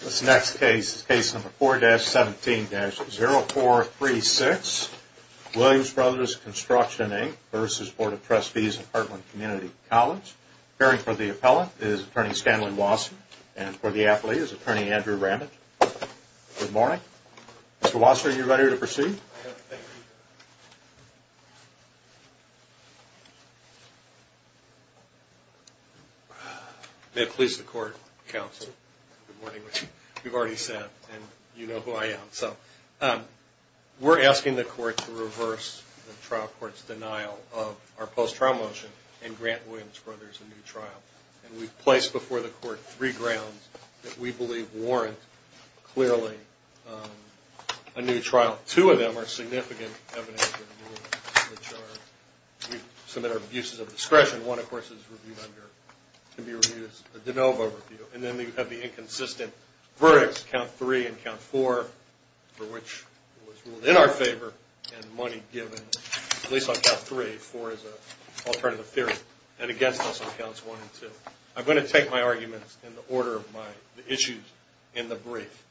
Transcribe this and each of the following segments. This next case is Case Number 4-17-0436, Williams Brothers Construction, Inc. v. Board of Trustees of Heartland Community College. Appearing for the appellant is Attorney Stanley Wasserman and for the athlete is Attorney Andrew Ramage. Good morning. Mr. Wasserman, are you ready to proceed? May it please the Court, Counsel. Good morning. We've already sat and you know who I am. We're asking the Court to reverse the trial court's denial of our post-trial motion and grant Williams Brothers a new trial. And we've placed before the Court three grounds that we believe warrant, clearly, a new trial. Two of them are significant evidence that we submit our abuses of discretion. One, of course, can be reviewed as a de novo review. And then we have the inconsistent verdicts, Count 3 and Count 4, for which it was ruled in our favor and money given. At least on Count 3, 4 is an alternative theory. And against us on Counts 1 and 2. I'm going to take my arguments in the order of my issues in the brief.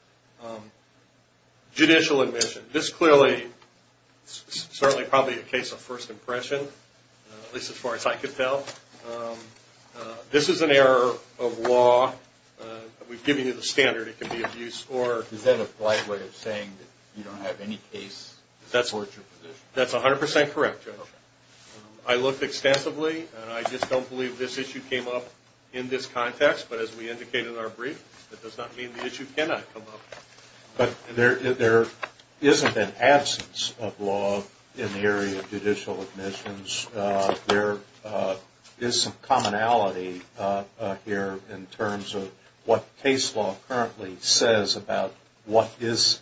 Judicial admission. This clearly is certainly probably a case of first impression, at least as far as I could tell. This is an error of law. We've given you the standard. It can be abuse or... That's 100% correct, Judge. I looked extensively and I just don't believe this issue came up in this context. But as we indicated in our brief, that does not mean the issue cannot come up. But there isn't an absence of law in the area of judicial admissions. There is some commonality here in terms of what case law currently says about what is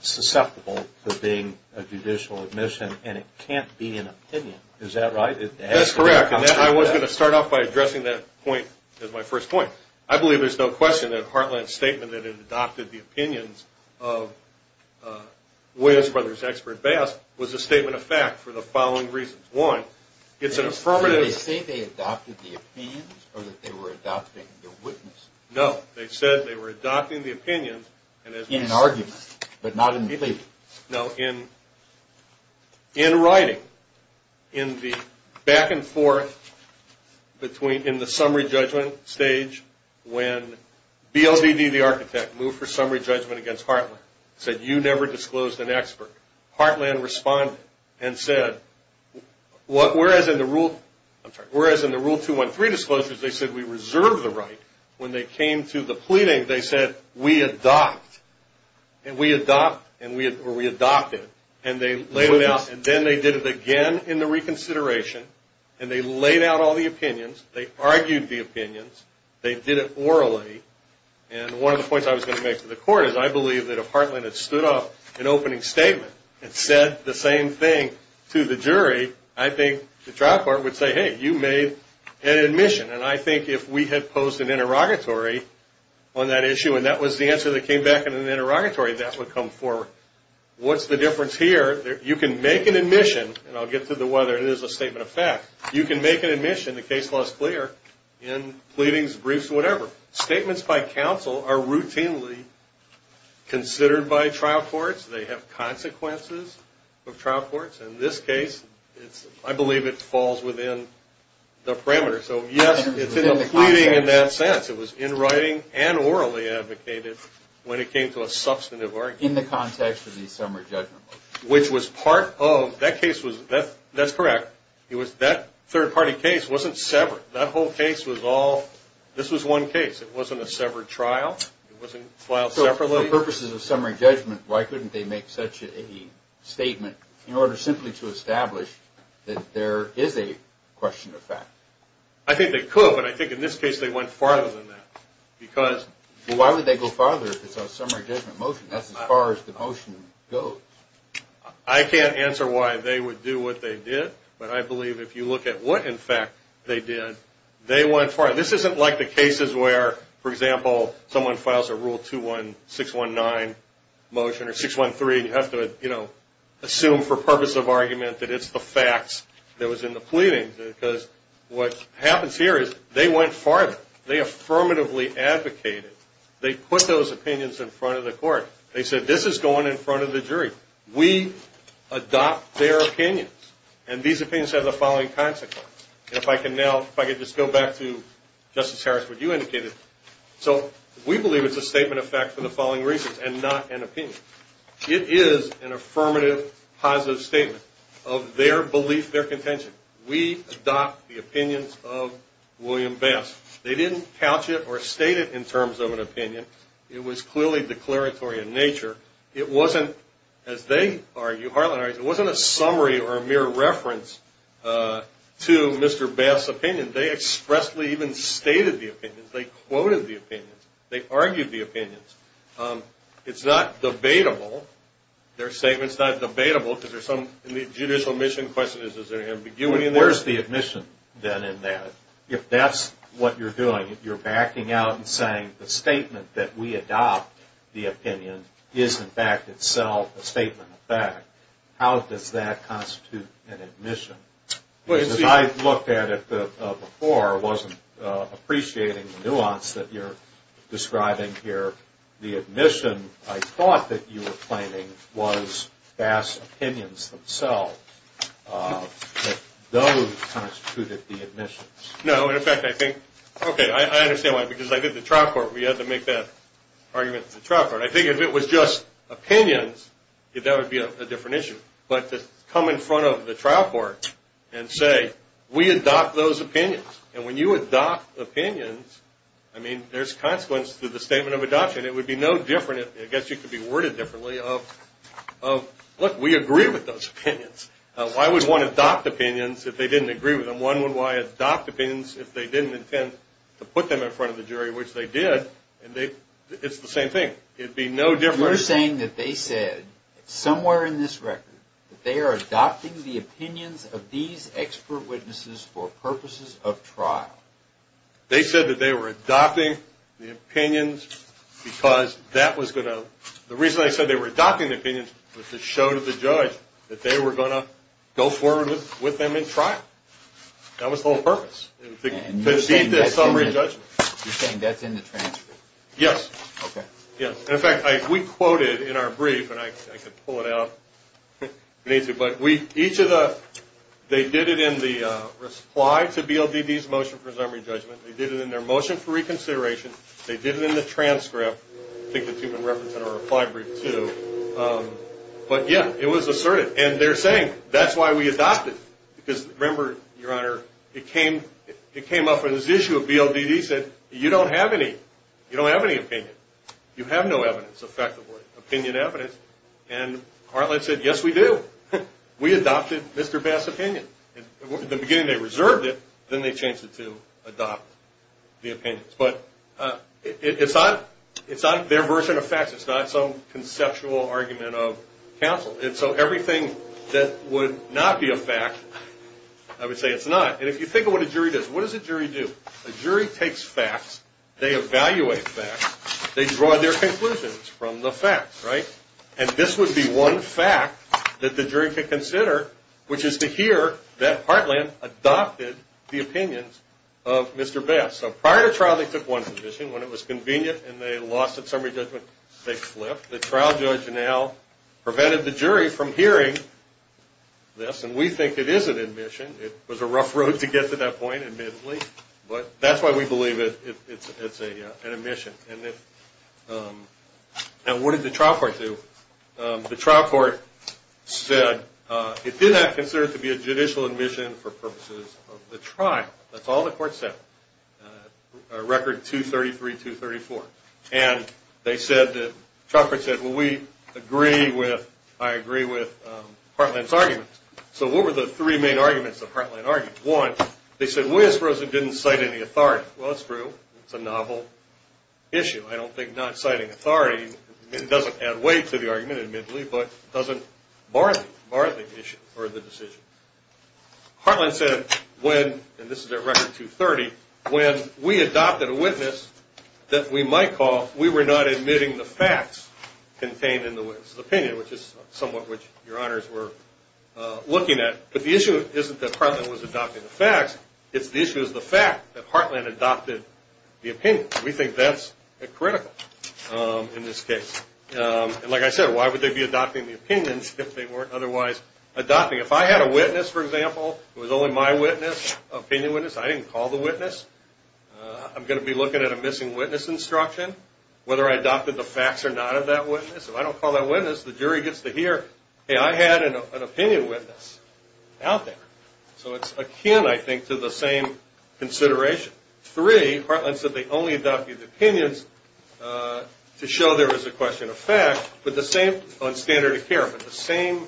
susceptible to being a judicial admission. And it can't be an opinion. Is that right? That's correct. I was going to start off by addressing that point as my first point. I believe there's no question that Heartland's statement that it adopted the opinions of Williams Brothers expert Bass was a statement of fact for the following reasons. One, it's an affirmative... Did they say they adopted the opinions or that they were adopting the witness? No. They said they were adopting the opinions. In an argument, but not in the brief. In writing, in the back and forth, in the summary judgment stage, when BLDD, the architect, moved for summary judgment against Heartland, said, you never disclosed an expert. Heartland responded and said, whereas in the Rule 213 disclosures they said we reserve the right, when they came to the pleading, they said we adopt. And we adopt, or we adopted. And then they did it again in the reconsideration. And they laid out all the opinions. They argued the opinions. They did it orally. And one of the points I was going to make to the court is I believe that if Heartland had stood up an opening statement and said the same thing to the jury, I think the trial court would say, hey, you made an admission. And I think if we had posed an interrogatory on that issue and that was the answer that came back in an interrogatory, that would come forward. What's the difference here? You can make an admission, and I'll get to whether it is a statement of fact. You can make an admission, the case law is clear, in pleadings, briefs, whatever. Statements by counsel are routinely considered by trial courts. They have consequences of trial courts. In this case, I believe it falls within the parameters. So, yes, it's in the pleading in that sense. It was in writing and orally advocated when it came to a substantive argument. In the context of the summary judgment. Which was part of, that case was, that's correct, that third-party case wasn't severed. That whole case was all, this was one case. It wasn't a severed trial. It wasn't filed separately. For the purposes of summary judgment, why couldn't they make such a statement in order simply to establish that there is a question of fact? I think they could, but I think in this case they went farther than that. Because. Why would they go farther if it's a summary judgment motion? That's as far as the motion goes. I can't answer why they would do what they did. But I believe if you look at what, in fact, they did, they went farther. This isn't like the cases where, for example, someone files a rule 21619 motion or 613. You have to assume for purpose of argument that it's the facts that was in the pleading. Because what happens here is they went farther. They affirmatively advocated. They put those opinions in front of the court. They said this is going in front of the jury. We adopt their opinions. And these opinions have the following consequences. And if I can now, if I could just go back to Justice Harris, what you indicated. So we believe it's a statement of fact for the following reasons and not an opinion. It is an affirmative positive statement of their belief, their contention. We adopt the opinions of William Bass. They didn't couch it or state it in terms of an opinion. It was clearly declaratory in nature. It wasn't, as they argue, Harlan and I, it wasn't a summary or a mere reference to Mr. Bass' opinion. They expressly even stated the opinions. They quoted the opinions. They argued the opinions. It's not debatable. Their statement's not debatable because there's some judicial mission questions. Is there ambiguity in there? Where's the admission, then, in that? If that's what you're doing, if you're backing out and saying the statement that we adopt the opinion is in fact itself a statement of fact, how does that constitute an admission? Because I looked at it before, wasn't appreciating the nuance that you're describing here. The admission I thought that you were claiming was Bass' opinions themselves, that those constituted the admissions. No, in fact, I think, okay, I understand why, because I did the trial court. We had to make that argument at the trial court. I think if it was just opinions, that would be a different issue. But to come in front of the trial court and say, we adopt those opinions. And when you adopt opinions, I mean, there's consequence to the statement of adoption. It would be no different. I guess you could be worded differently. Look, we agree with those opinions. Why would one adopt opinions if they didn't agree with them? One would adopt opinions if they didn't intend to put them in front of the jury, which they did. It's the same thing. It would be no different. You're saying that they said, somewhere in this record, that they are adopting the opinions of these expert witnesses for purposes of trial. They said that they were adopting the opinions because that was going to – the reason they said they were adopting the opinions was to show to the judge that they were going to go forward with them in trial. That was the whole purpose, to beat this summary judgment. You're saying that's in the transcript? Yes. Okay. Yes. In fact, we quoted in our brief, and I could pull it out if you need to, but each of the – they did it in the reply to BLDD's motion for summary judgment. They did it in their motion for reconsideration. They did it in the transcript. I think the two have been referenced in our reply brief, too. But, yeah, it was asserted. And they're saying, that's why we adopted. Because, remember, Your Honor, it came up in this issue of BLDD. They said, you don't have any. You don't have any opinion. You have no evidence, effectively. Opinion evidence. And Heartland said, yes, we do. We adopted Mr. Bass' opinion. At the beginning, they reserved it. Then they changed it to adopt the opinions. But it's not their version of facts. It's not some conceptual argument of counsel. And so everything that would not be a fact, I would say it's not. And if you think of what a jury does, what does a jury do? A jury takes facts. They evaluate facts. They draw their conclusions from the facts, right? And this would be one fact that the jury could consider, which is to hear that Heartland adopted the opinions of Mr. Bass. So prior to trial, they took one position. When it was convenient and they lost at summary judgment, they flipped. The trial judge now prevented the jury from hearing this, and we think it is an admission. It was a rough road to get to that point, admittedly. But that's why we believe it's an admission. And what did the trial court do? The trial court said it did not consider it to be a judicial admission for purposes of the trial. That's all the court said. Record 233-234. And they said, the trial court said, well, we agree with, I agree with Heartland's arguments. So what were the three main arguments that Heartland argued? One, they said Williams-Rosen didn't cite any authority. Well, that's true. It's a novel issue. I don't think not citing authority doesn't add weight to the argument, admittedly, but doesn't bar the issue or the decision. Heartland said when, and this is at Record 230, when we adopted a witness that we might call, we were not admitting the facts contained in the witness' opinion, which is somewhat what your honors were looking at. But the issue isn't that Heartland was adopting the facts. It's the issue is the fact that Heartland adopted the opinion. We think that's critical in this case. And like I said, why would they be adopting the opinions if they weren't otherwise adopting? If I had a witness, for example, who was only my witness, opinion witness, I didn't call the witness, I'm going to be looking at a missing witness instruction, whether I adopted the facts or not of that witness. If I don't call that witness, the jury gets to hear, hey, I had an opinion witness out there. So it's akin, I think, to the same consideration. Three, Heartland said they only adopted the opinions to show there was a question of fact, on standard of care, but the same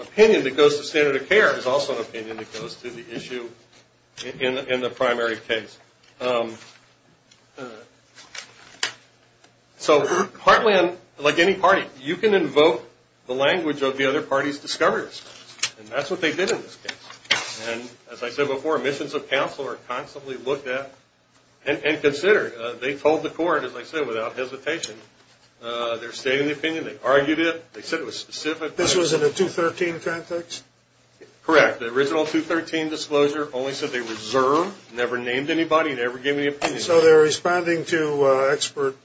opinion that goes to standard of care is also an opinion that goes to the issue in the primary case. So Heartland, like any party, you can invoke the language of the other party's discoverers. And that's what they did in this case. And as I said before, missions of counsel are constantly looked at and considered. They told the court, as I said, without hesitation. They're stating the opinion. They argued it. They said it was specific. This was in a 213 context? Correct. The original 213 disclosure only said they reserved, never named anybody, never gave any opinion. So they're responding to expert,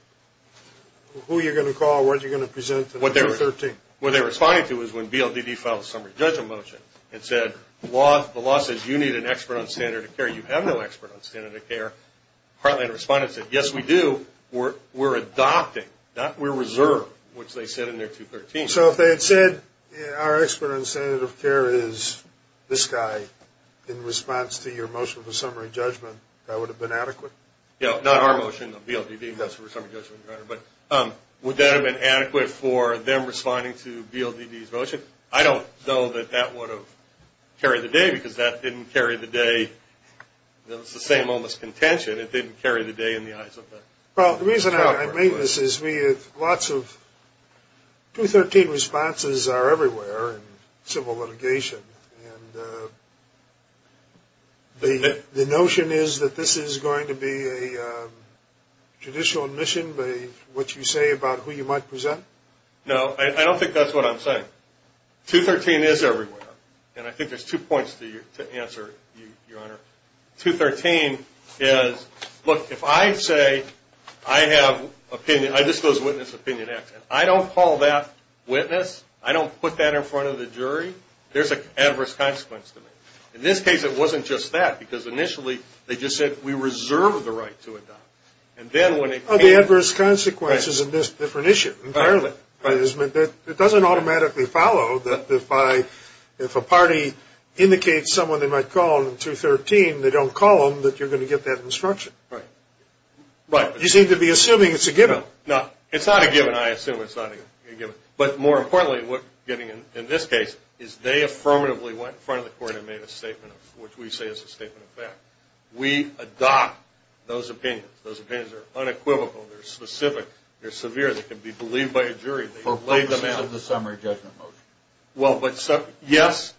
who you're going to call, what you're going to present in 213. What they're responding to is when BLDD filed a summary judgment motion and said, the law says you need an expert on standard of care. You have no expert on standard of care. Heartland responded and said, yes, we do. We're adopting. We're reserved, which they said in their 213. So if they had said, our expert on standard of care is this guy, in response to your motion for summary judgment, that would have been adequate? Not our motion, the BLDD motion for summary judgment. Would that have been adequate for them responding to BLDD's motion? I don't know that that would have carried the day because that didn't carry the day. It was the same almost contention. It didn't carry the day in the eyes of the staff. Well, the reason I made this is lots of 213 responses are everywhere in civil litigation. And the notion is that this is going to be a judicial admission by what you say about who you might present? No. I don't think that's what I'm saying. 213 is everywhere. And I think there's two points to answer, Your Honor. 213 is, look, if I say I have opinion, I disclose witness opinion X, and I don't call that witness, I don't put that in front of the jury, there's an adverse consequence to me. In this case, it wasn't just that because initially they just said we reserve the right to adopt. The adverse consequence is a different issue entirely. It doesn't automatically follow that if a party indicates someone they might call in 213, they don't call them, that you're going to get that instruction. Right. You seem to be assuming it's a given. No, it's not a given. I assume it's not a given. But more importantly, in this case, is they affirmatively went in front of the court and made a statement of what we say is a statement of fact. We adopt those opinions. Those opinions are unequivocal. They're specific. They're severe. They can be believed by a jury. For the purpose of the summary judgment motion. Well, but yes,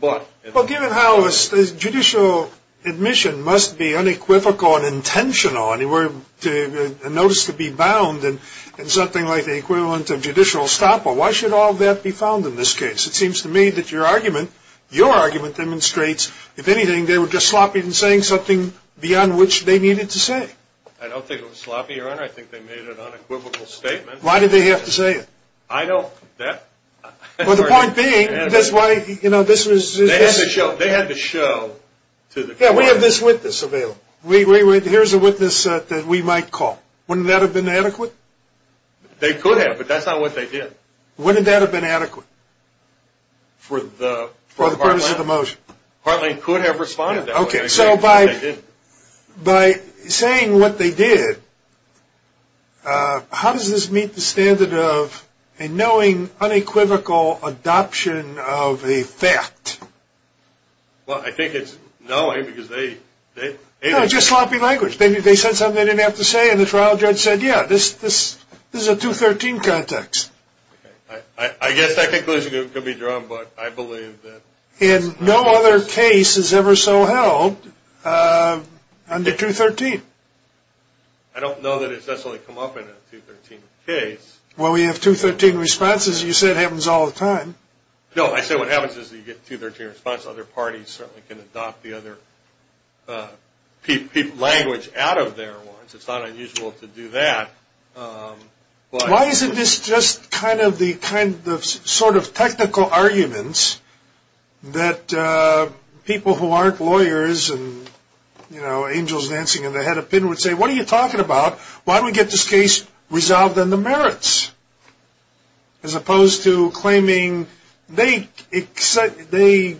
but. Well, given how judicial admission must be unequivocal and intentional, and notice to be bound in something like the equivalent of judicial estoppel, why should all that be found in this case? It seems to me that your argument demonstrates, if anything, they were just sloppy in saying something beyond which they needed to say. I don't think it was sloppy, Your Honor. I think they made an unequivocal statement. Why did they have to say it? I don't, that. Well, the point being, that's why, you know, this was. They had to show. They had to show to the court. Yeah, we have this witness available. Here's a witness that we might call. Wouldn't that have been adequate? They could have, but that's not what they did. Wouldn't that have been adequate? For the. For the purpose of the motion. Heartland could have responded that way. Okay, so by saying what they did, how does this meet the standard of a knowing unequivocal adoption of a fact? Well, I think it's knowing because they. No, just sloppy language. They said something they didn't have to say, and the trial judge said, yeah, this is a 213 context. I guess that conclusion could be drawn, but I believe that. And no other case is ever so held under 213. I don't know that it's necessarily come up in a 213 case. Well, we have 213 responses. You said it happens all the time. No, I said what happens is you get a 213 response. Other parties certainly can adopt the other language out of their ones. It's not unusual to do that. Why isn't this just kind of the sort of technical arguments that people who aren't lawyers and angels dancing in the head of pin would say, what are you talking about? Why don't we get this case resolved on the merits? As opposed to claiming they made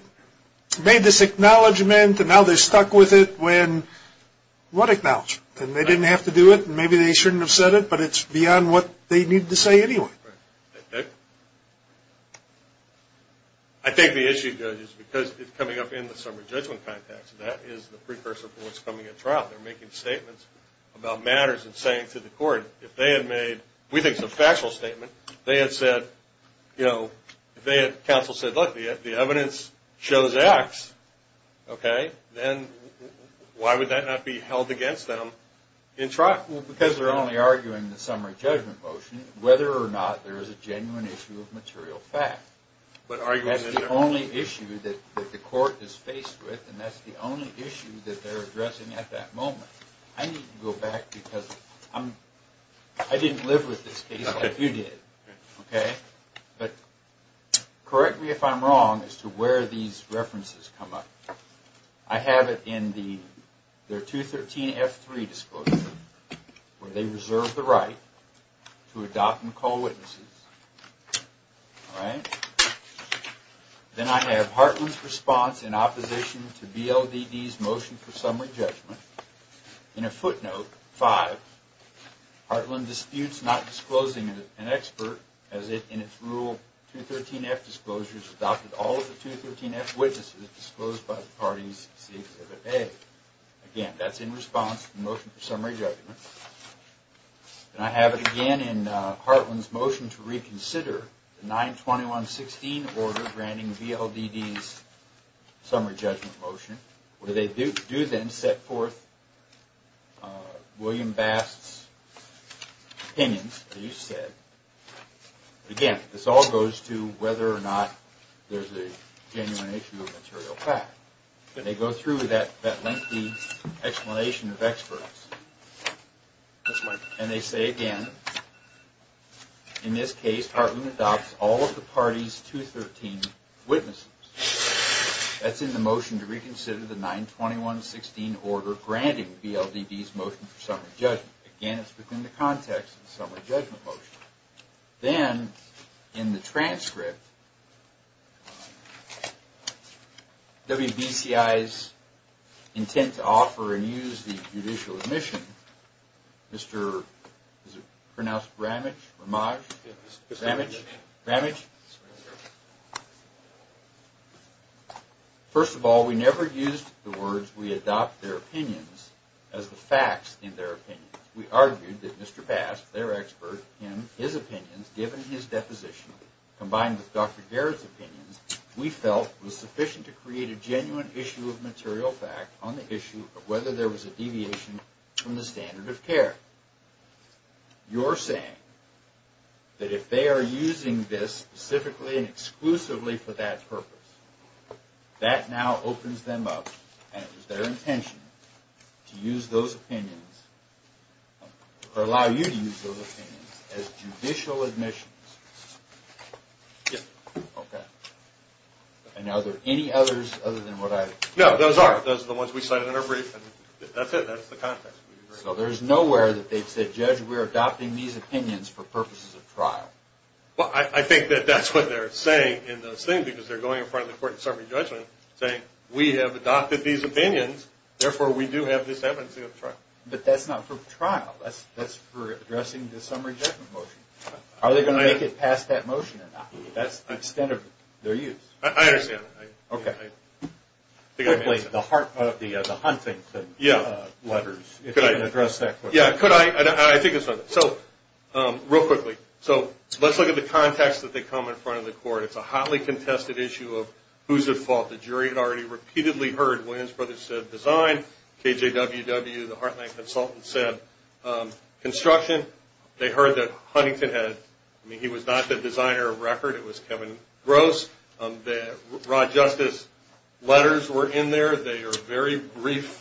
this acknowledgment and now they're stuck with it. What acknowledgment? And they didn't have to do it, and maybe they shouldn't have said it, but it's beyond what they need to say anyway. Right. I think the issue, Judge, is because it's coming up in the summary judgment context, that is the precursor for what's coming at trial. They're making statements about matters and saying to the court, if they had made, we think it's a factual statement, they had said, you know, if they had counsel said, look, the evidence shows X, okay, then why would that not be held against them in trial? Well, because they're only arguing the summary judgment motion, whether or not there is a genuine issue of material fact. That's the only issue that the court is faced with, and that's the only issue that they're addressing at that moment. I need to go back because I didn't live with this case like you did, okay? But correct me if I'm wrong as to where these references come up. I have it in their 213-F3 disclosure, where they reserve the right to adopt and call witnesses. All right? Then I have Hartland's response in opposition to BLDD's motion for summary judgment. In a footnote, five, Hartland disputes not disclosing an expert as it, in its rule 213-F disclosures, adopted all of the 213-F witnesses disclosed by the parties. Again, that's in response to the motion for summary judgment. And I have it again in Hartland's motion to reconsider the 921-16 order granting BLDD's summary judgment motion, where they do then set forth William Bast's opinions, as you said. Again, this all goes to whether or not there's a genuine issue of material fact. They go through that lengthy explanation of experts. And they say again, in this case, Hartland adopts all of the parties' 213 witnesses. That's in the motion to reconsider the 921-16 order granting BLDD's motion for summary judgment. Again, it's within the context of the summary judgment motion. Then, in the transcript, WBCI's intent to offer and use the judicial admission, Mr. Ramage? Ramage? First of all, we never used the words we adopt their opinions as the facts in their opinions. We argued that Mr. Bast, their expert, him, his opinions, given his deposition, combined with Dr. Garrett's opinions, we felt was sufficient to create a genuine issue of material fact on the issue of whether there was a deviation from the standard of care. You're saying that if they are using this specifically and exclusively for that purpose, that now opens them up, and it was their intention to use those opinions, or allow you to use those opinions, as judicial admissions? Yes. Okay. And are there any others other than what I? No, those are. Those are the ones we cited in our brief, and that's it. That's the context. So there's nowhere that they've said, Judge, we're adopting these opinions for purposes of trial? Well, I think that that's what they're saying in those things, because they're going in front of the court in summary judgment, saying, we have adopted these opinions, therefore we do have this evidence to go to trial. But that's not for trial. That's for addressing the summary judgment motion. Are they going to make it past that motion or not? That's the extent of their use. I understand. Okay. I think I've answered. Quickly, the hunting letters, if you can address that question. Yeah, could I? I think I saw that. So, real quickly, so let's look at the context that they come in front of the court. It's a hotly contested issue of who's at fault. The jury had already repeatedly heard Williams Brothers said design. KJWW, the Heartland consultant, said construction. They heard that Huntington had, I mean, he was not the designer of record. It was Kevin Gross. The Rod Justice letters were in there. They are very brief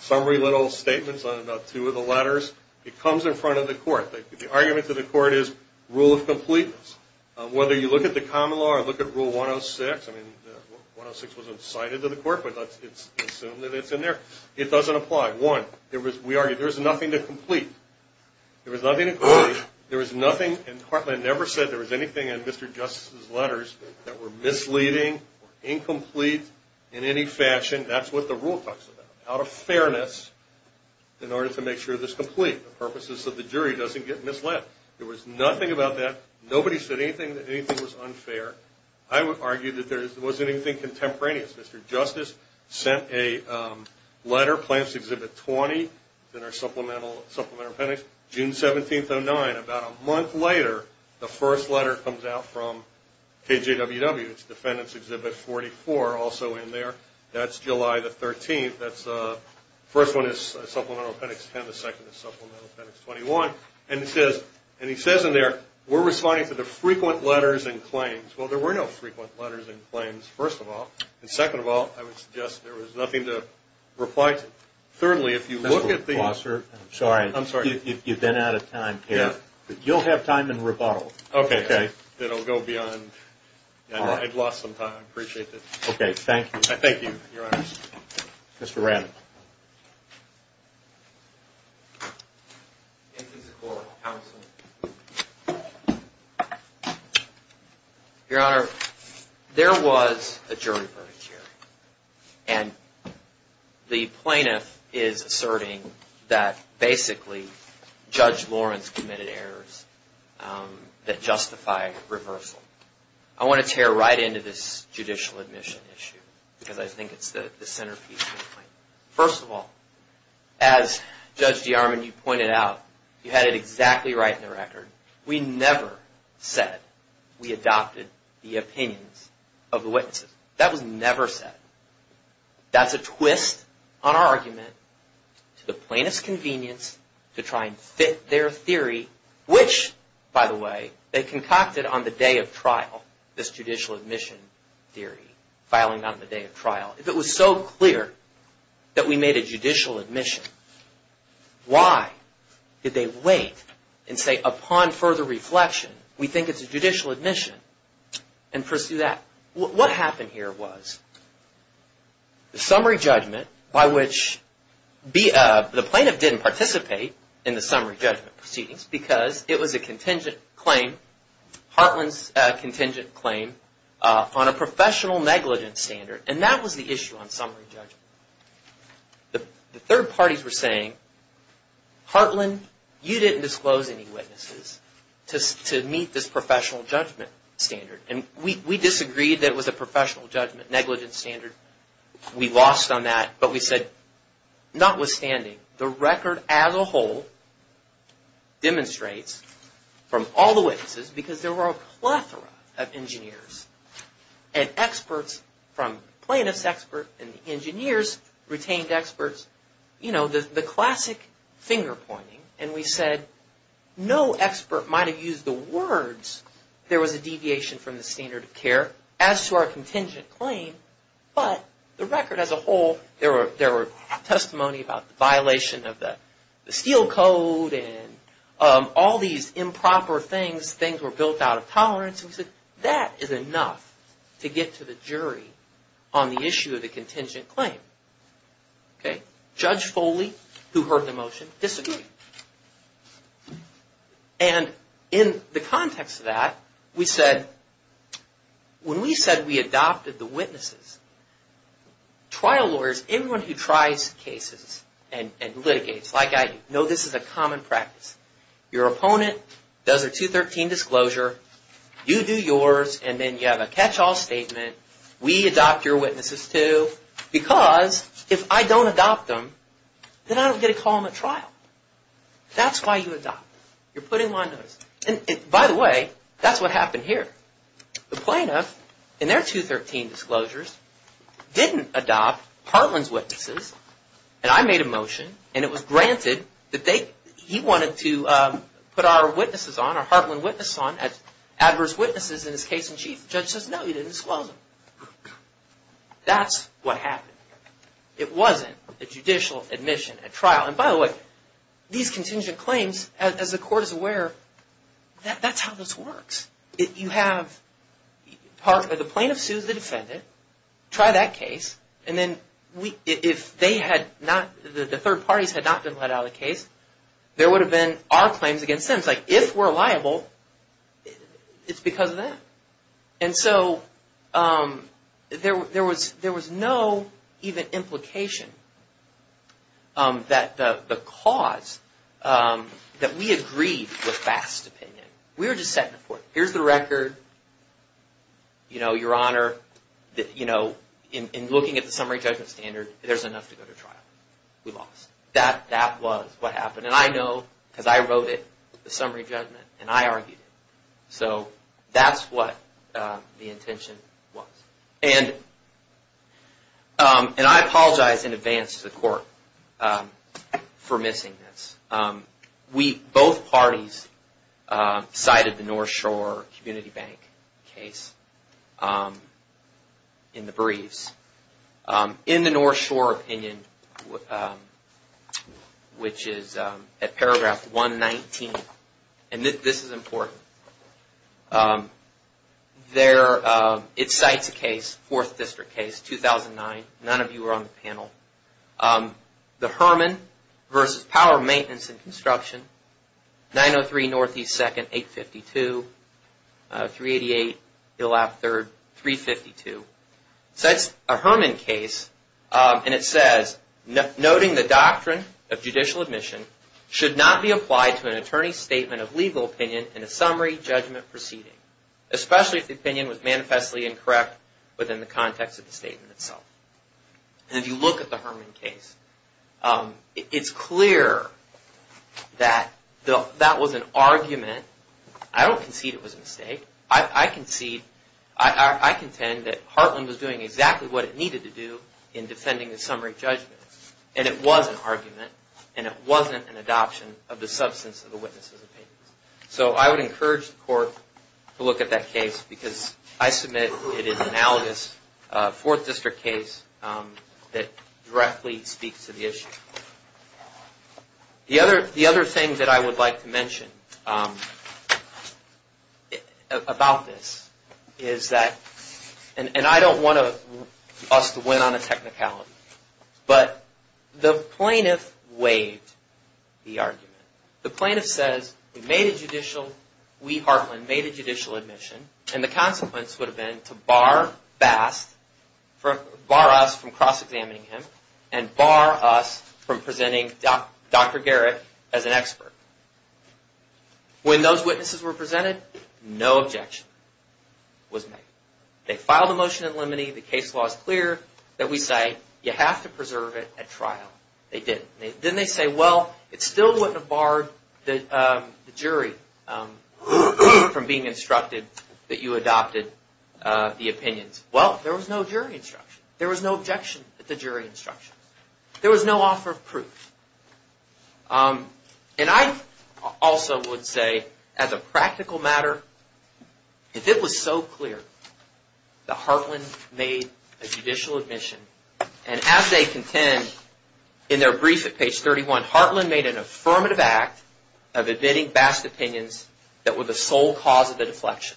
summary little statements on about two of the letters. It comes in front of the court. The argument to the court is rule of completeness. Whether you look at the common law or look at rule 106. I mean, 106 wasn't cited to the court, but let's assume that it's in there. It doesn't apply. One, we argued there was nothing to complete. There was nothing to complete. There was nothing, and Heartland never said there was anything in Mr. Justice's letters that were misleading or incomplete in any fashion. That's what the rule talks about, out of fairness, in order to make sure it's complete. The purpose is so the jury doesn't get misled. There was nothing about that. Nobody said anything that anything was unfair. I would argue that there wasn't anything contemporaneous. Mr. Justice sent a letter, Plaintiff's Exhibit 20, in our Supplemental Appendix, June 17, 2009. About a month later, the first letter comes out from KJWW. It's Defendant's Exhibit 44, also in there. That's July the 13th. The first one is Supplemental Appendix 10. The second is Supplemental Appendix 21. And he says in there, we're responding to the frequent letters and claims. Well, there were no frequent letters and claims, first of all. And second of all, I would suggest there was nothing to reply to. Thirdly, if you look at the... Mr. McClosser, I'm sorry. I'm sorry. You've been out of time here. You'll have time in rebuttal. Okay. It'll go beyond. I've lost some time. I appreciate it. Okay. Thank you. Thank you, Your Honors. Mr. Radley. Your Honor, there was adjourned verdict here. And the plaintiff is asserting that basically Judge Lawrence committed errors that justify reversal. I want to tear right into this judicial admission issue because I think it's the centerpiece. First of all, as Judge DeArmond, you pointed out, you had it exactly right in the record. We never said we adopted the opinions of the witnesses. That was never said. That's a twist on our argument to the plaintiff's convenience to try and fit their theory, which, by the way, they concocted on the day of trial, this judicial admission theory filing on the day of trial. If it was so clear that we made a judicial admission, why did they wait and say upon further reflection, we think it's a judicial admission, and pursue that? What happened here was the summary judgment by which the plaintiff didn't participate in the summary judgment proceedings because it was a contingent claim, Heartland's contingent claim, on a professional negligence standard. And that was the issue on summary judgment. The third parties were saying, Heartland, you didn't disclose any witnesses to meet this professional judgment standard. And we disagreed that it was a professional judgment negligence standard. We lost on that. But we said, notwithstanding, the record as a whole demonstrates from all the witnesses, because there were a plethora of engineers and experts from plaintiff's expert and engineers retained experts, you know, the classic finger pointing. And we said, no expert might have used the words, there was a deviation from the standard of care as to our contingent claim, but the record as a whole, there were testimony about the violation of the steel code and all these improper things, things were built out of tolerance. We said, that is enough to get to the jury on the issue of the contingent claim. Judge Foley, who heard the motion, disagreed. And in the context of that, we said, when we said we adopted the witnesses, trial lawyers, anyone who tries cases and litigates, like I do, know this is a common practice. Your opponent does a 213 disclosure, you do yours, and then you have a catch-all statement, we adopt your witnesses too, because if I don't adopt them, then I don't get to call them at trial. That's why you adopt them. You're putting them on notice. And by the way, that's what happened here. The plaintiff, in their 213 disclosures, didn't adopt Hartland's witnesses, and I made a motion, and it was granted that he wanted to put our witnesses on, adverse witnesses in his case-in-chief. The judge says, no, you didn't disclose them. That's what happened. It wasn't a judicial admission at trial. And by the way, these contingent claims, as the court is aware, that's how this works. You have the plaintiff sues the defendant, try that case, and then if the third parties had not been let out of the case, there would have been our claims against them. And it's like, if we're liable, it's because of that. And so there was no even implication that the cause, that we agreed with vast opinion. We were just setting the court. Here's the record, your Honor, in looking at the summary judgment standard, there's enough to go to trial. We lost. That was what happened. And I know because I wrote it, the summary judgment, and I argued it. So that's what the intention was. And I apologize in advance to the court for missing this. Both parties cited the North Shore Community Bank case in the briefs. In the North Shore opinion, which is at paragraph 119, and this is important, it cites a case, Fourth District case, 2009. None of you were on the panel. The Herman versus Power Maintenance and Construction, 903 Northeast 2nd, 852, 388 Hill Ave. 3rd, 352. Cites a Herman case, and it says, noting the doctrine of judicial admission, should not be applied to an attorney's statement of legal opinion in a summary judgment proceeding, especially if the opinion was manifestly incorrect within the context of the statement itself. And if you look at the Herman case, it's clear that that was an argument. I contend that Heartland was doing exactly what it needed to do in defending the summary judgment, and it was an argument, and it wasn't an adoption of the substance of the witness' opinions. So I would encourage the court to look at that case, because I submit it is an analogous Fourth District case that directly speaks to the issue. The other thing that I would like to mention about this is that, and I don't want us to win on a technicality, but the plaintiff waived the argument. The plaintiff says, we Heartland made a judicial admission, and the consequence would have been to bar us from cross-examining him, and bar us from presenting Dr. Garrick as an expert. When those witnesses were presented, no objection was made. They filed a motion at limine, the case law is clear, that we say, you have to preserve it at trial. They did. Then they say, well, it still wouldn't have barred the jury from being instructed that you adopted the opinions. Well, there was no jury instruction. There was no objection at the jury instructions. There was no offer of proof. And I also would say, as a practical matter, if it was so clear that Heartland made a judicial admission, and as they contend, in their brief at page 31, Heartland made an affirmative act of admitting vast opinions that were the sole cause of the deflection,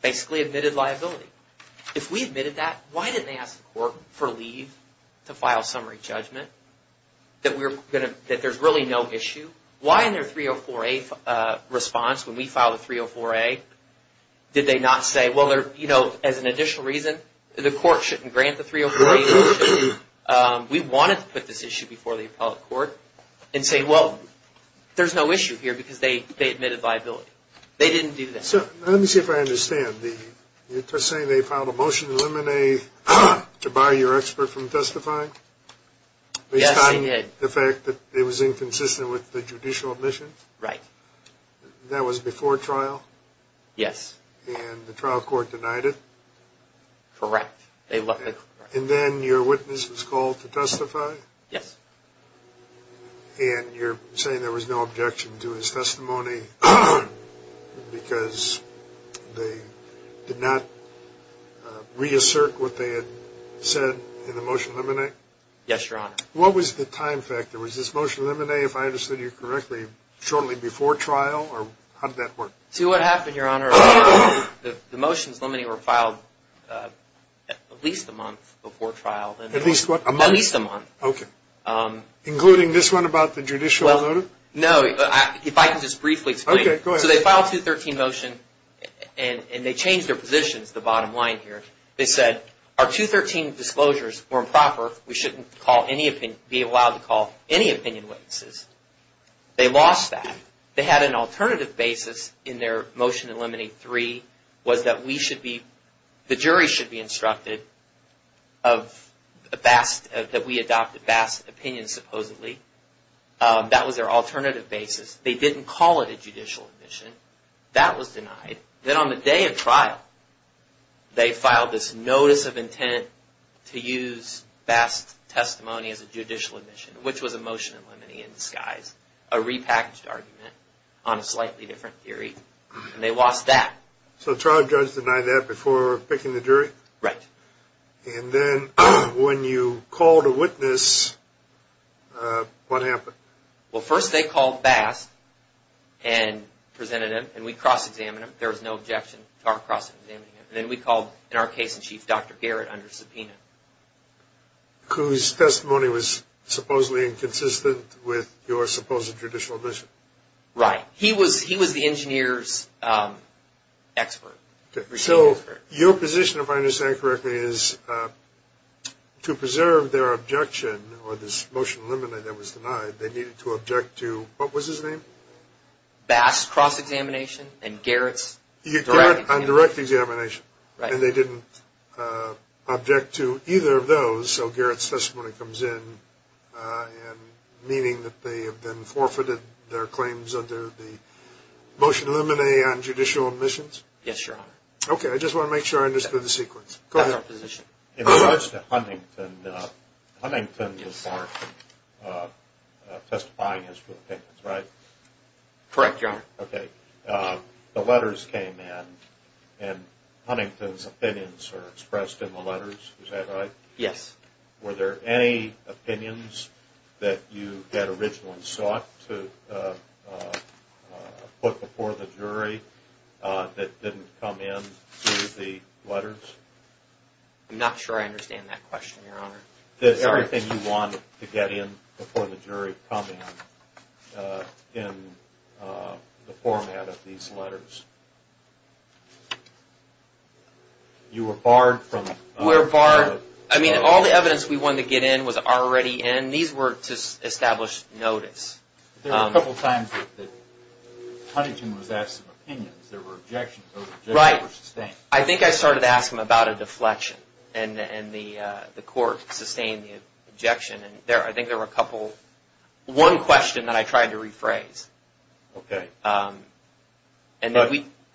basically admitted liability. If we admitted that, why didn't they ask the court for leave to file summary judgment, that there's really no issue? Why in their 304A response, when we filed the 304A, did they not say, well, as an additional reason, the court shouldn't grant the 304A. We wanted to put this issue before the appellate court and say, well, there's no issue here, because they admitted liability. They didn't do that. Let me see if I understand. You're saying they filed a motion at limine to bar your expert from testifying? Yes, they did. Based on the fact that it was inconsistent with the judicial admission? Right. That was before trial? Yes. And the trial court denied it? Correct. And then your witness was called to testify? Yes. And you're saying there was no objection to his testimony, because they did not reassert what they had said in the motion to eliminate? Yes, Your Honor. What was the time factor? Was this motion to eliminate, if I understood you correctly, shortly before trial, or how did that work? See, what happened, Your Honor, the motions limiting were filed at least a month before trial. At least what, a month? At least a month. Okay. Including this one about the judicial motive? No, if I can just briefly explain. Okay, go ahead. So they filed a 213 motion, and they changed their positions, the bottom line here. They said, our 213 disclosures were improper. We shouldn't be allowed to call any opinion witnesses. They lost that. They had an alternative basis in their motion to eliminate three, was that we should be, the jury should be instructed that we adopted Bass' opinion, supposedly. That was their alternative basis. They didn't call it a judicial admission. That was denied. Then on the day of trial, they filed this notice of intent to use Bass' testimony as a judicial admission, which was a motion eliminating in disguise, a repackaged argument on a slightly different theory, and they lost that. So the trial judge denied that before picking the jury? Right. And then when you called a witness, what happened? Well, first they called Bass and presented him, and we cross-examined him. There was no objection to our cross-examining him. Then we called, in our case in chief, Dr. Garrett under subpoena. Whose testimony was supposedly inconsistent with your supposed judicial admission? Right. He was the engineer's expert. So your position, if I understand correctly, is to preserve their objection or this motion to eliminate that was denied, they needed to object to what was his name? Bass' cross-examination and Garrett's direct examination. Right. And they didn't object to either of those, so Garrett's testimony comes in, meaning that they have been forfeited their claims under the motion to eliminate on judicial admissions? Yes, Your Honor. Okay. I just want to make sure I understood the sequence. Go ahead. That's our position. In regards to Huntington, Huntington was part of testifying his true opinions, right? Correct, Your Honor. Okay. The letters came in and Huntington's opinions are expressed in the letters, is that right? Yes. Were there any opinions that you had originally sought to put before the jury that didn't come in through the letters? I'm not sure I understand that question, Your Honor. Everything you wanted to get in before the jury come in, in the format of these letters, you were barred from? We were barred. I mean, all the evidence we wanted to get in was already in. These were to establish notice. There were a couple times that Huntington was asked some opinions. There were objections. Those objections were sustained. I think I started to ask him about a deflection and the court sustained the objection. I think there were a couple. One question that I tried to rephrase. Okay.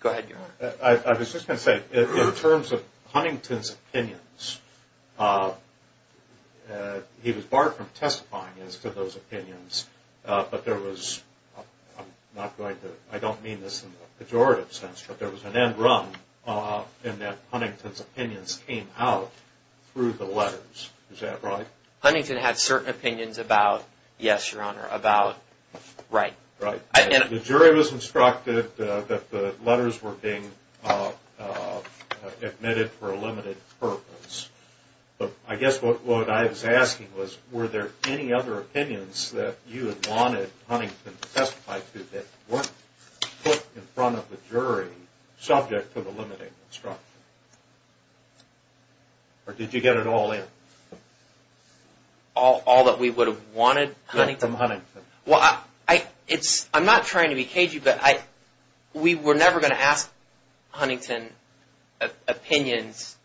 Go ahead, Your Honor. I was just going to say, in terms of Huntington's opinions, he was barred from testifying as to those opinions, but there was, I don't mean this in a pejorative sense, but there was an end run in that Huntington's opinions came out through the letters. Is that right? Huntington had certain opinions about, yes, Your Honor, about, right. The jury was instructed that the letters were being admitted for a limited purpose. I guess what I was asking was, were there any other opinions that you had wanted Huntington to testify to that weren't put in front of the jury, subject to the limited instruction? Or did you get it all in? All that we would have wanted Huntington? Yeah, from Huntington. I'm not trying to be cagey, but we were never going to ask Huntington opinions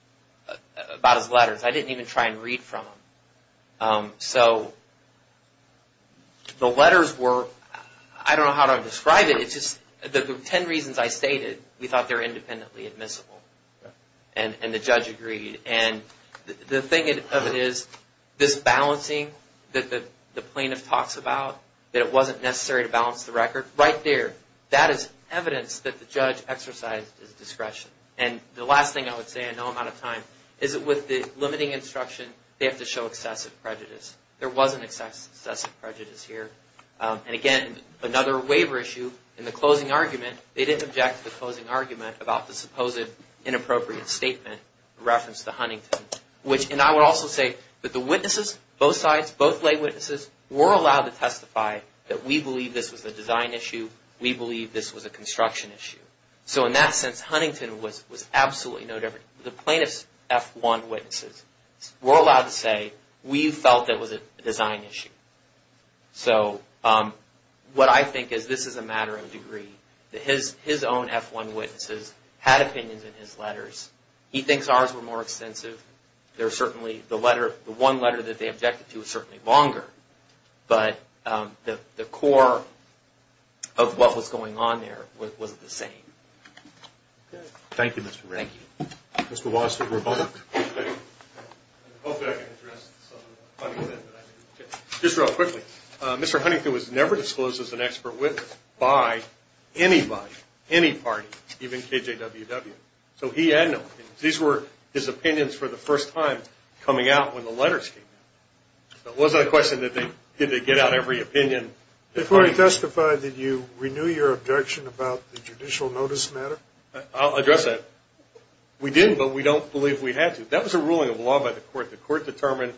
about his letters. I didn't even try and read from them. So the letters were, I don't know how to describe it. It's just the ten reasons I stated, we thought they were independently admissible, and the judge agreed. And the thing of it is, this balancing that the plaintiff talks about, that it wasn't necessary to balance the record, right there. That is evidence that the judge exercised his discretion. And the last thing I would say, I know I'm out of time, is that with the limiting instruction, they have to show excessive prejudice. There wasn't excessive prejudice here. And again, another waiver issue, in the closing argument, they didn't object to the closing argument about the supposed inappropriate statement in reference to Huntington. And I would also say that the witnesses, both sides, both lay witnesses, were allowed to testify that we believe this was a design issue, we believe this was a construction issue. So in that sense, Huntington was absolutely no different. The plaintiff's F1 witnesses were allowed to say, we felt it was a design issue. So what I think is, this is a matter of degree. His own F1 witnesses had opinions in his letters. He thinks ours were more extensive. The one letter that they objected to was certainly longer. But the core of what was going on there was the same. Thank you, Mr. Wright. Thank you. Mr. Weiss for the rebuttal. Hopefully I can address some of Huntington. Just real quickly, Mr. Huntington was never disclosed as an expert witness by anybody, any party, even KJWW. So he had no opinions. These were his opinions for the first time coming out when the letters came out. It wasn't a question that they get out every opinion. Before you testify, did you renew your objection about the judicial notice matter? I'll address that. We did, but we don't believe we had to. That was a ruling of law by the court. The court determined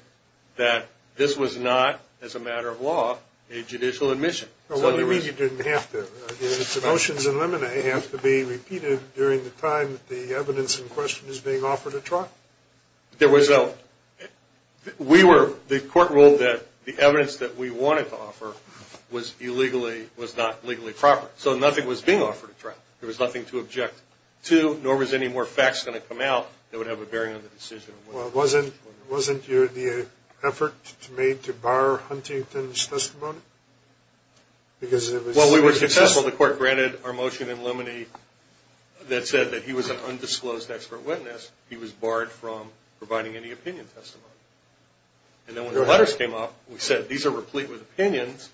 that this was not, as a matter of law, a judicial admission. What do you mean you didn't have to? Did the motions in Lemonet have to be repeated during the time that the evidence in question is being offered to trial? There was no – we were – the court ruled that the evidence that we wanted to offer was illegally – was not legally proper. So nothing was being offered to trial. There was nothing to object to, nor was any more facts going to come out that would have a bearing on the decision. Well, wasn't your effort made to bar Huntington's testimony? Because it was – Well, we were successful. The court granted our motion in Lemonet that said that he was an undisclosed expert witness. He was barred from providing any opinion testimony. And then when the letters came up, we said, these are replete with opinions.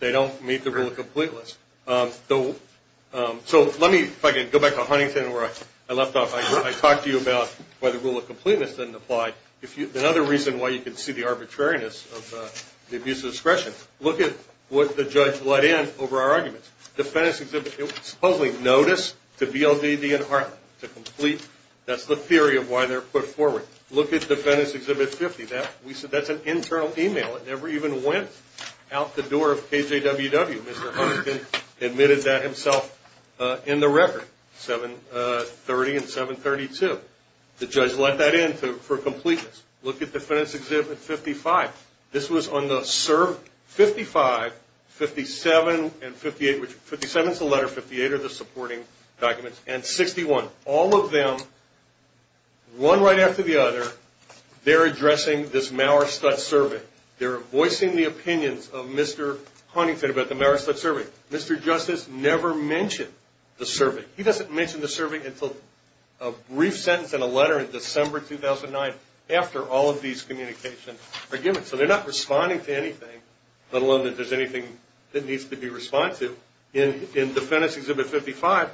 They don't meet the rule of completeness. So let me – if I can go back to Huntington where I left off. I talked to you about why the rule of completeness didn't apply. Another reason why you can see the arbitrariness of the abuse of discretion. Look at what the judge let in over our arguments. Defendant's exhibit – supposedly notice to VLDD and Hartman to complete. That's the theory of why they're put forward. Look at Defendant's Exhibit 50. We said that's an internal email. It never even went out the door of KJWW. Mr. Huntington admitted that himself in the record, 730 and 732. The judge let that in for completeness. Look at Defendant's Exhibit 55. This was on the – 55, 57, and 58 – 57 is the letter, 58 are the supporting documents, and 61. All of them, one right after the other, they're addressing this Mauerstudt survey. They're voicing the opinions of Mr. Huntington about the Mauerstudt survey. Mr. Justice never mentioned the survey. He doesn't mention the survey until a brief sentence and a letter in December 2009 after all of these communications are given. So they're not responding to anything, let alone that there's anything that needs to be responded to. In Defendant's Exhibit 55,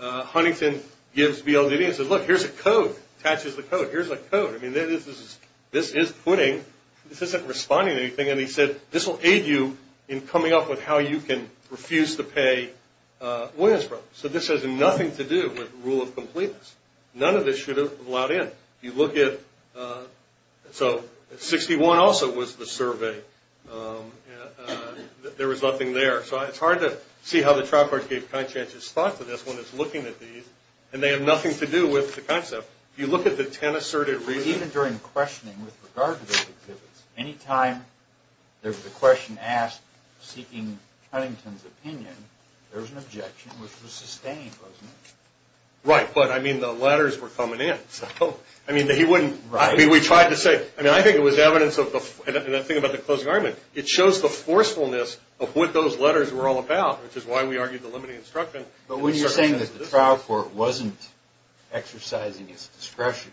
Huntington gives BLDD and says, look, here's a code, attaches the code. Here's a code. I mean, this is putting. This isn't responding to anything. And he said, this will aid you in coming up with how you can refuse to pay Williamsbrough. So this has nothing to do with rule of completeness. None of this should have allowed in. If you look at – so 61 also was the survey. There was nothing there. So it's hard to see how the trial court gave conscientious thought to this when it's looking at these, and they have nothing to do with the concept. If you look at the ten asserted reasons. Even during questioning with regard to those exhibits, any time there was a question asked seeking Huntington's opinion, there was an objection which was sustained, wasn't it? Right, but I mean, the letters were coming in. I mean, he wouldn't – I mean, we tried to say – I mean, I think it was evidence of the – that's what the letters were all about, which is why we argued the limiting instruction. But when you're saying that the trial court wasn't exercising its discretion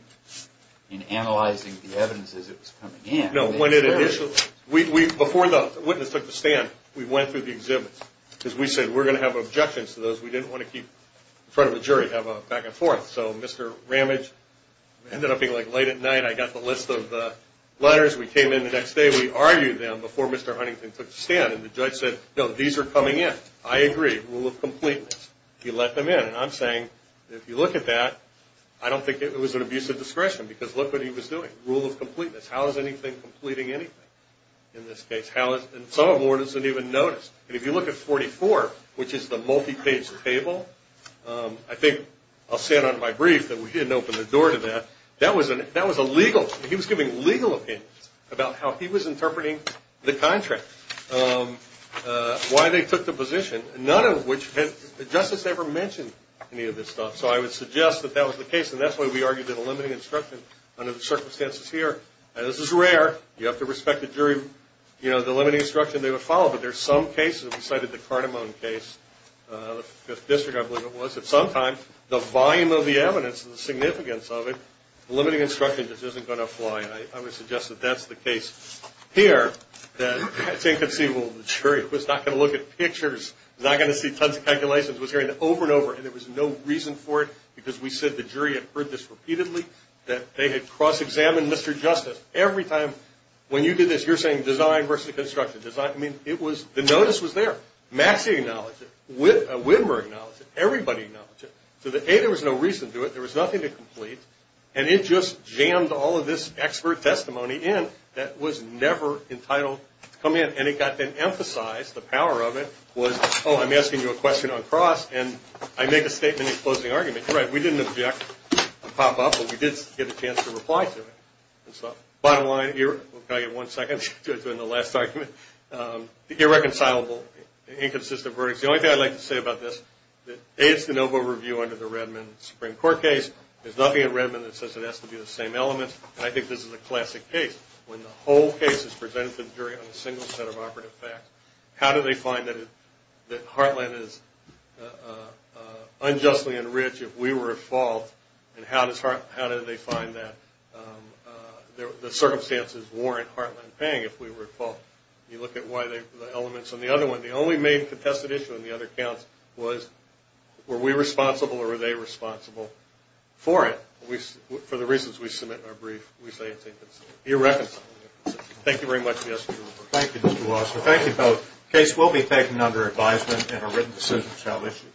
in analyzing the evidence as it was coming in – No, when it initially – before the witness took the stand, we went through the exhibits, because we said we're going to have objections to those we didn't want to keep in front of a jury, have a back and forth. So Mr. Ramage ended up being like late at night. I got the list of letters. We came in the next day. We argued them before Mr. Huntington took the stand. And the judge said, no, these are coming in. I agree. Rule of completeness. He let them in. And I'm saying, if you look at that, I don't think it was an abuse of discretion, because look what he was doing. Rule of completeness. How is anything completing anything in this case? How is – and some of the board doesn't even notice. And if you look at 44, which is the multi-page table, I think I'll say it on my brief that we didn't open the door to that. That was a legal – he was giving legal opinions about how he was interpreting the contract, why they took the position, none of which had – justice never mentioned any of this stuff. So I would suggest that that was the case, and that's why we argued that a limiting instruction under the circumstances here, and this is rare, you have to respect the jury, you know, the limiting instruction they would follow. But there's some cases, we cited the Cardamone case, the Fifth District I believe it was, that sometimes the volume of the evidence and the significance of it, the limiting instruction just isn't going to apply. And I would suggest that that's the case here. I think the jury was not going to look at pictures, was not going to see tons of calculations, was hearing it over and over. And there was no reason for it, because we said the jury had heard this repeatedly, that they had cross-examined Mr. Justice. Every time when you do this, you're saying design versus construction. I mean, it was – the notice was there. Maxie acknowledged it. Whitmer acknowledged it. Everybody acknowledged it. So A, there was no reason to do it. There was nothing to complete. And it just jammed all of this expert testimony in that was never entitled to come in. And it got then emphasized, the power of it, was, oh, I'm asking you a question on cross, and I make a statement in closing argument. You're right, we didn't object to the pop-up, but we did get a chance to reply to it. Bottom line, we'll give you one second to explain the last argument. Irreconcilable, inconsistent verdicts. The only thing I'd like to say about this, A, it's the NOVA review under the Redmond Supreme Court case. There's nothing in Redmond that says it has to be the same elements. And I think this is a classic case. When the whole case is presented to the jury on a single set of operative facts, how do they find that Heartland is unjustly enriched if we were at fault? And how do they find that the circumstances warrant Heartland paying if we were at fault? You look at why the elements on the other one, the only main contested issue on the other counts was, were we responsible or were they responsible for it? For the reasons we submit in our brief, we say it's inconsistent. Irreconcilable. Thank you very much. Thank you, Mr. Wasser. Thank you both. The case will be taken under advisement and a written decision shall issue.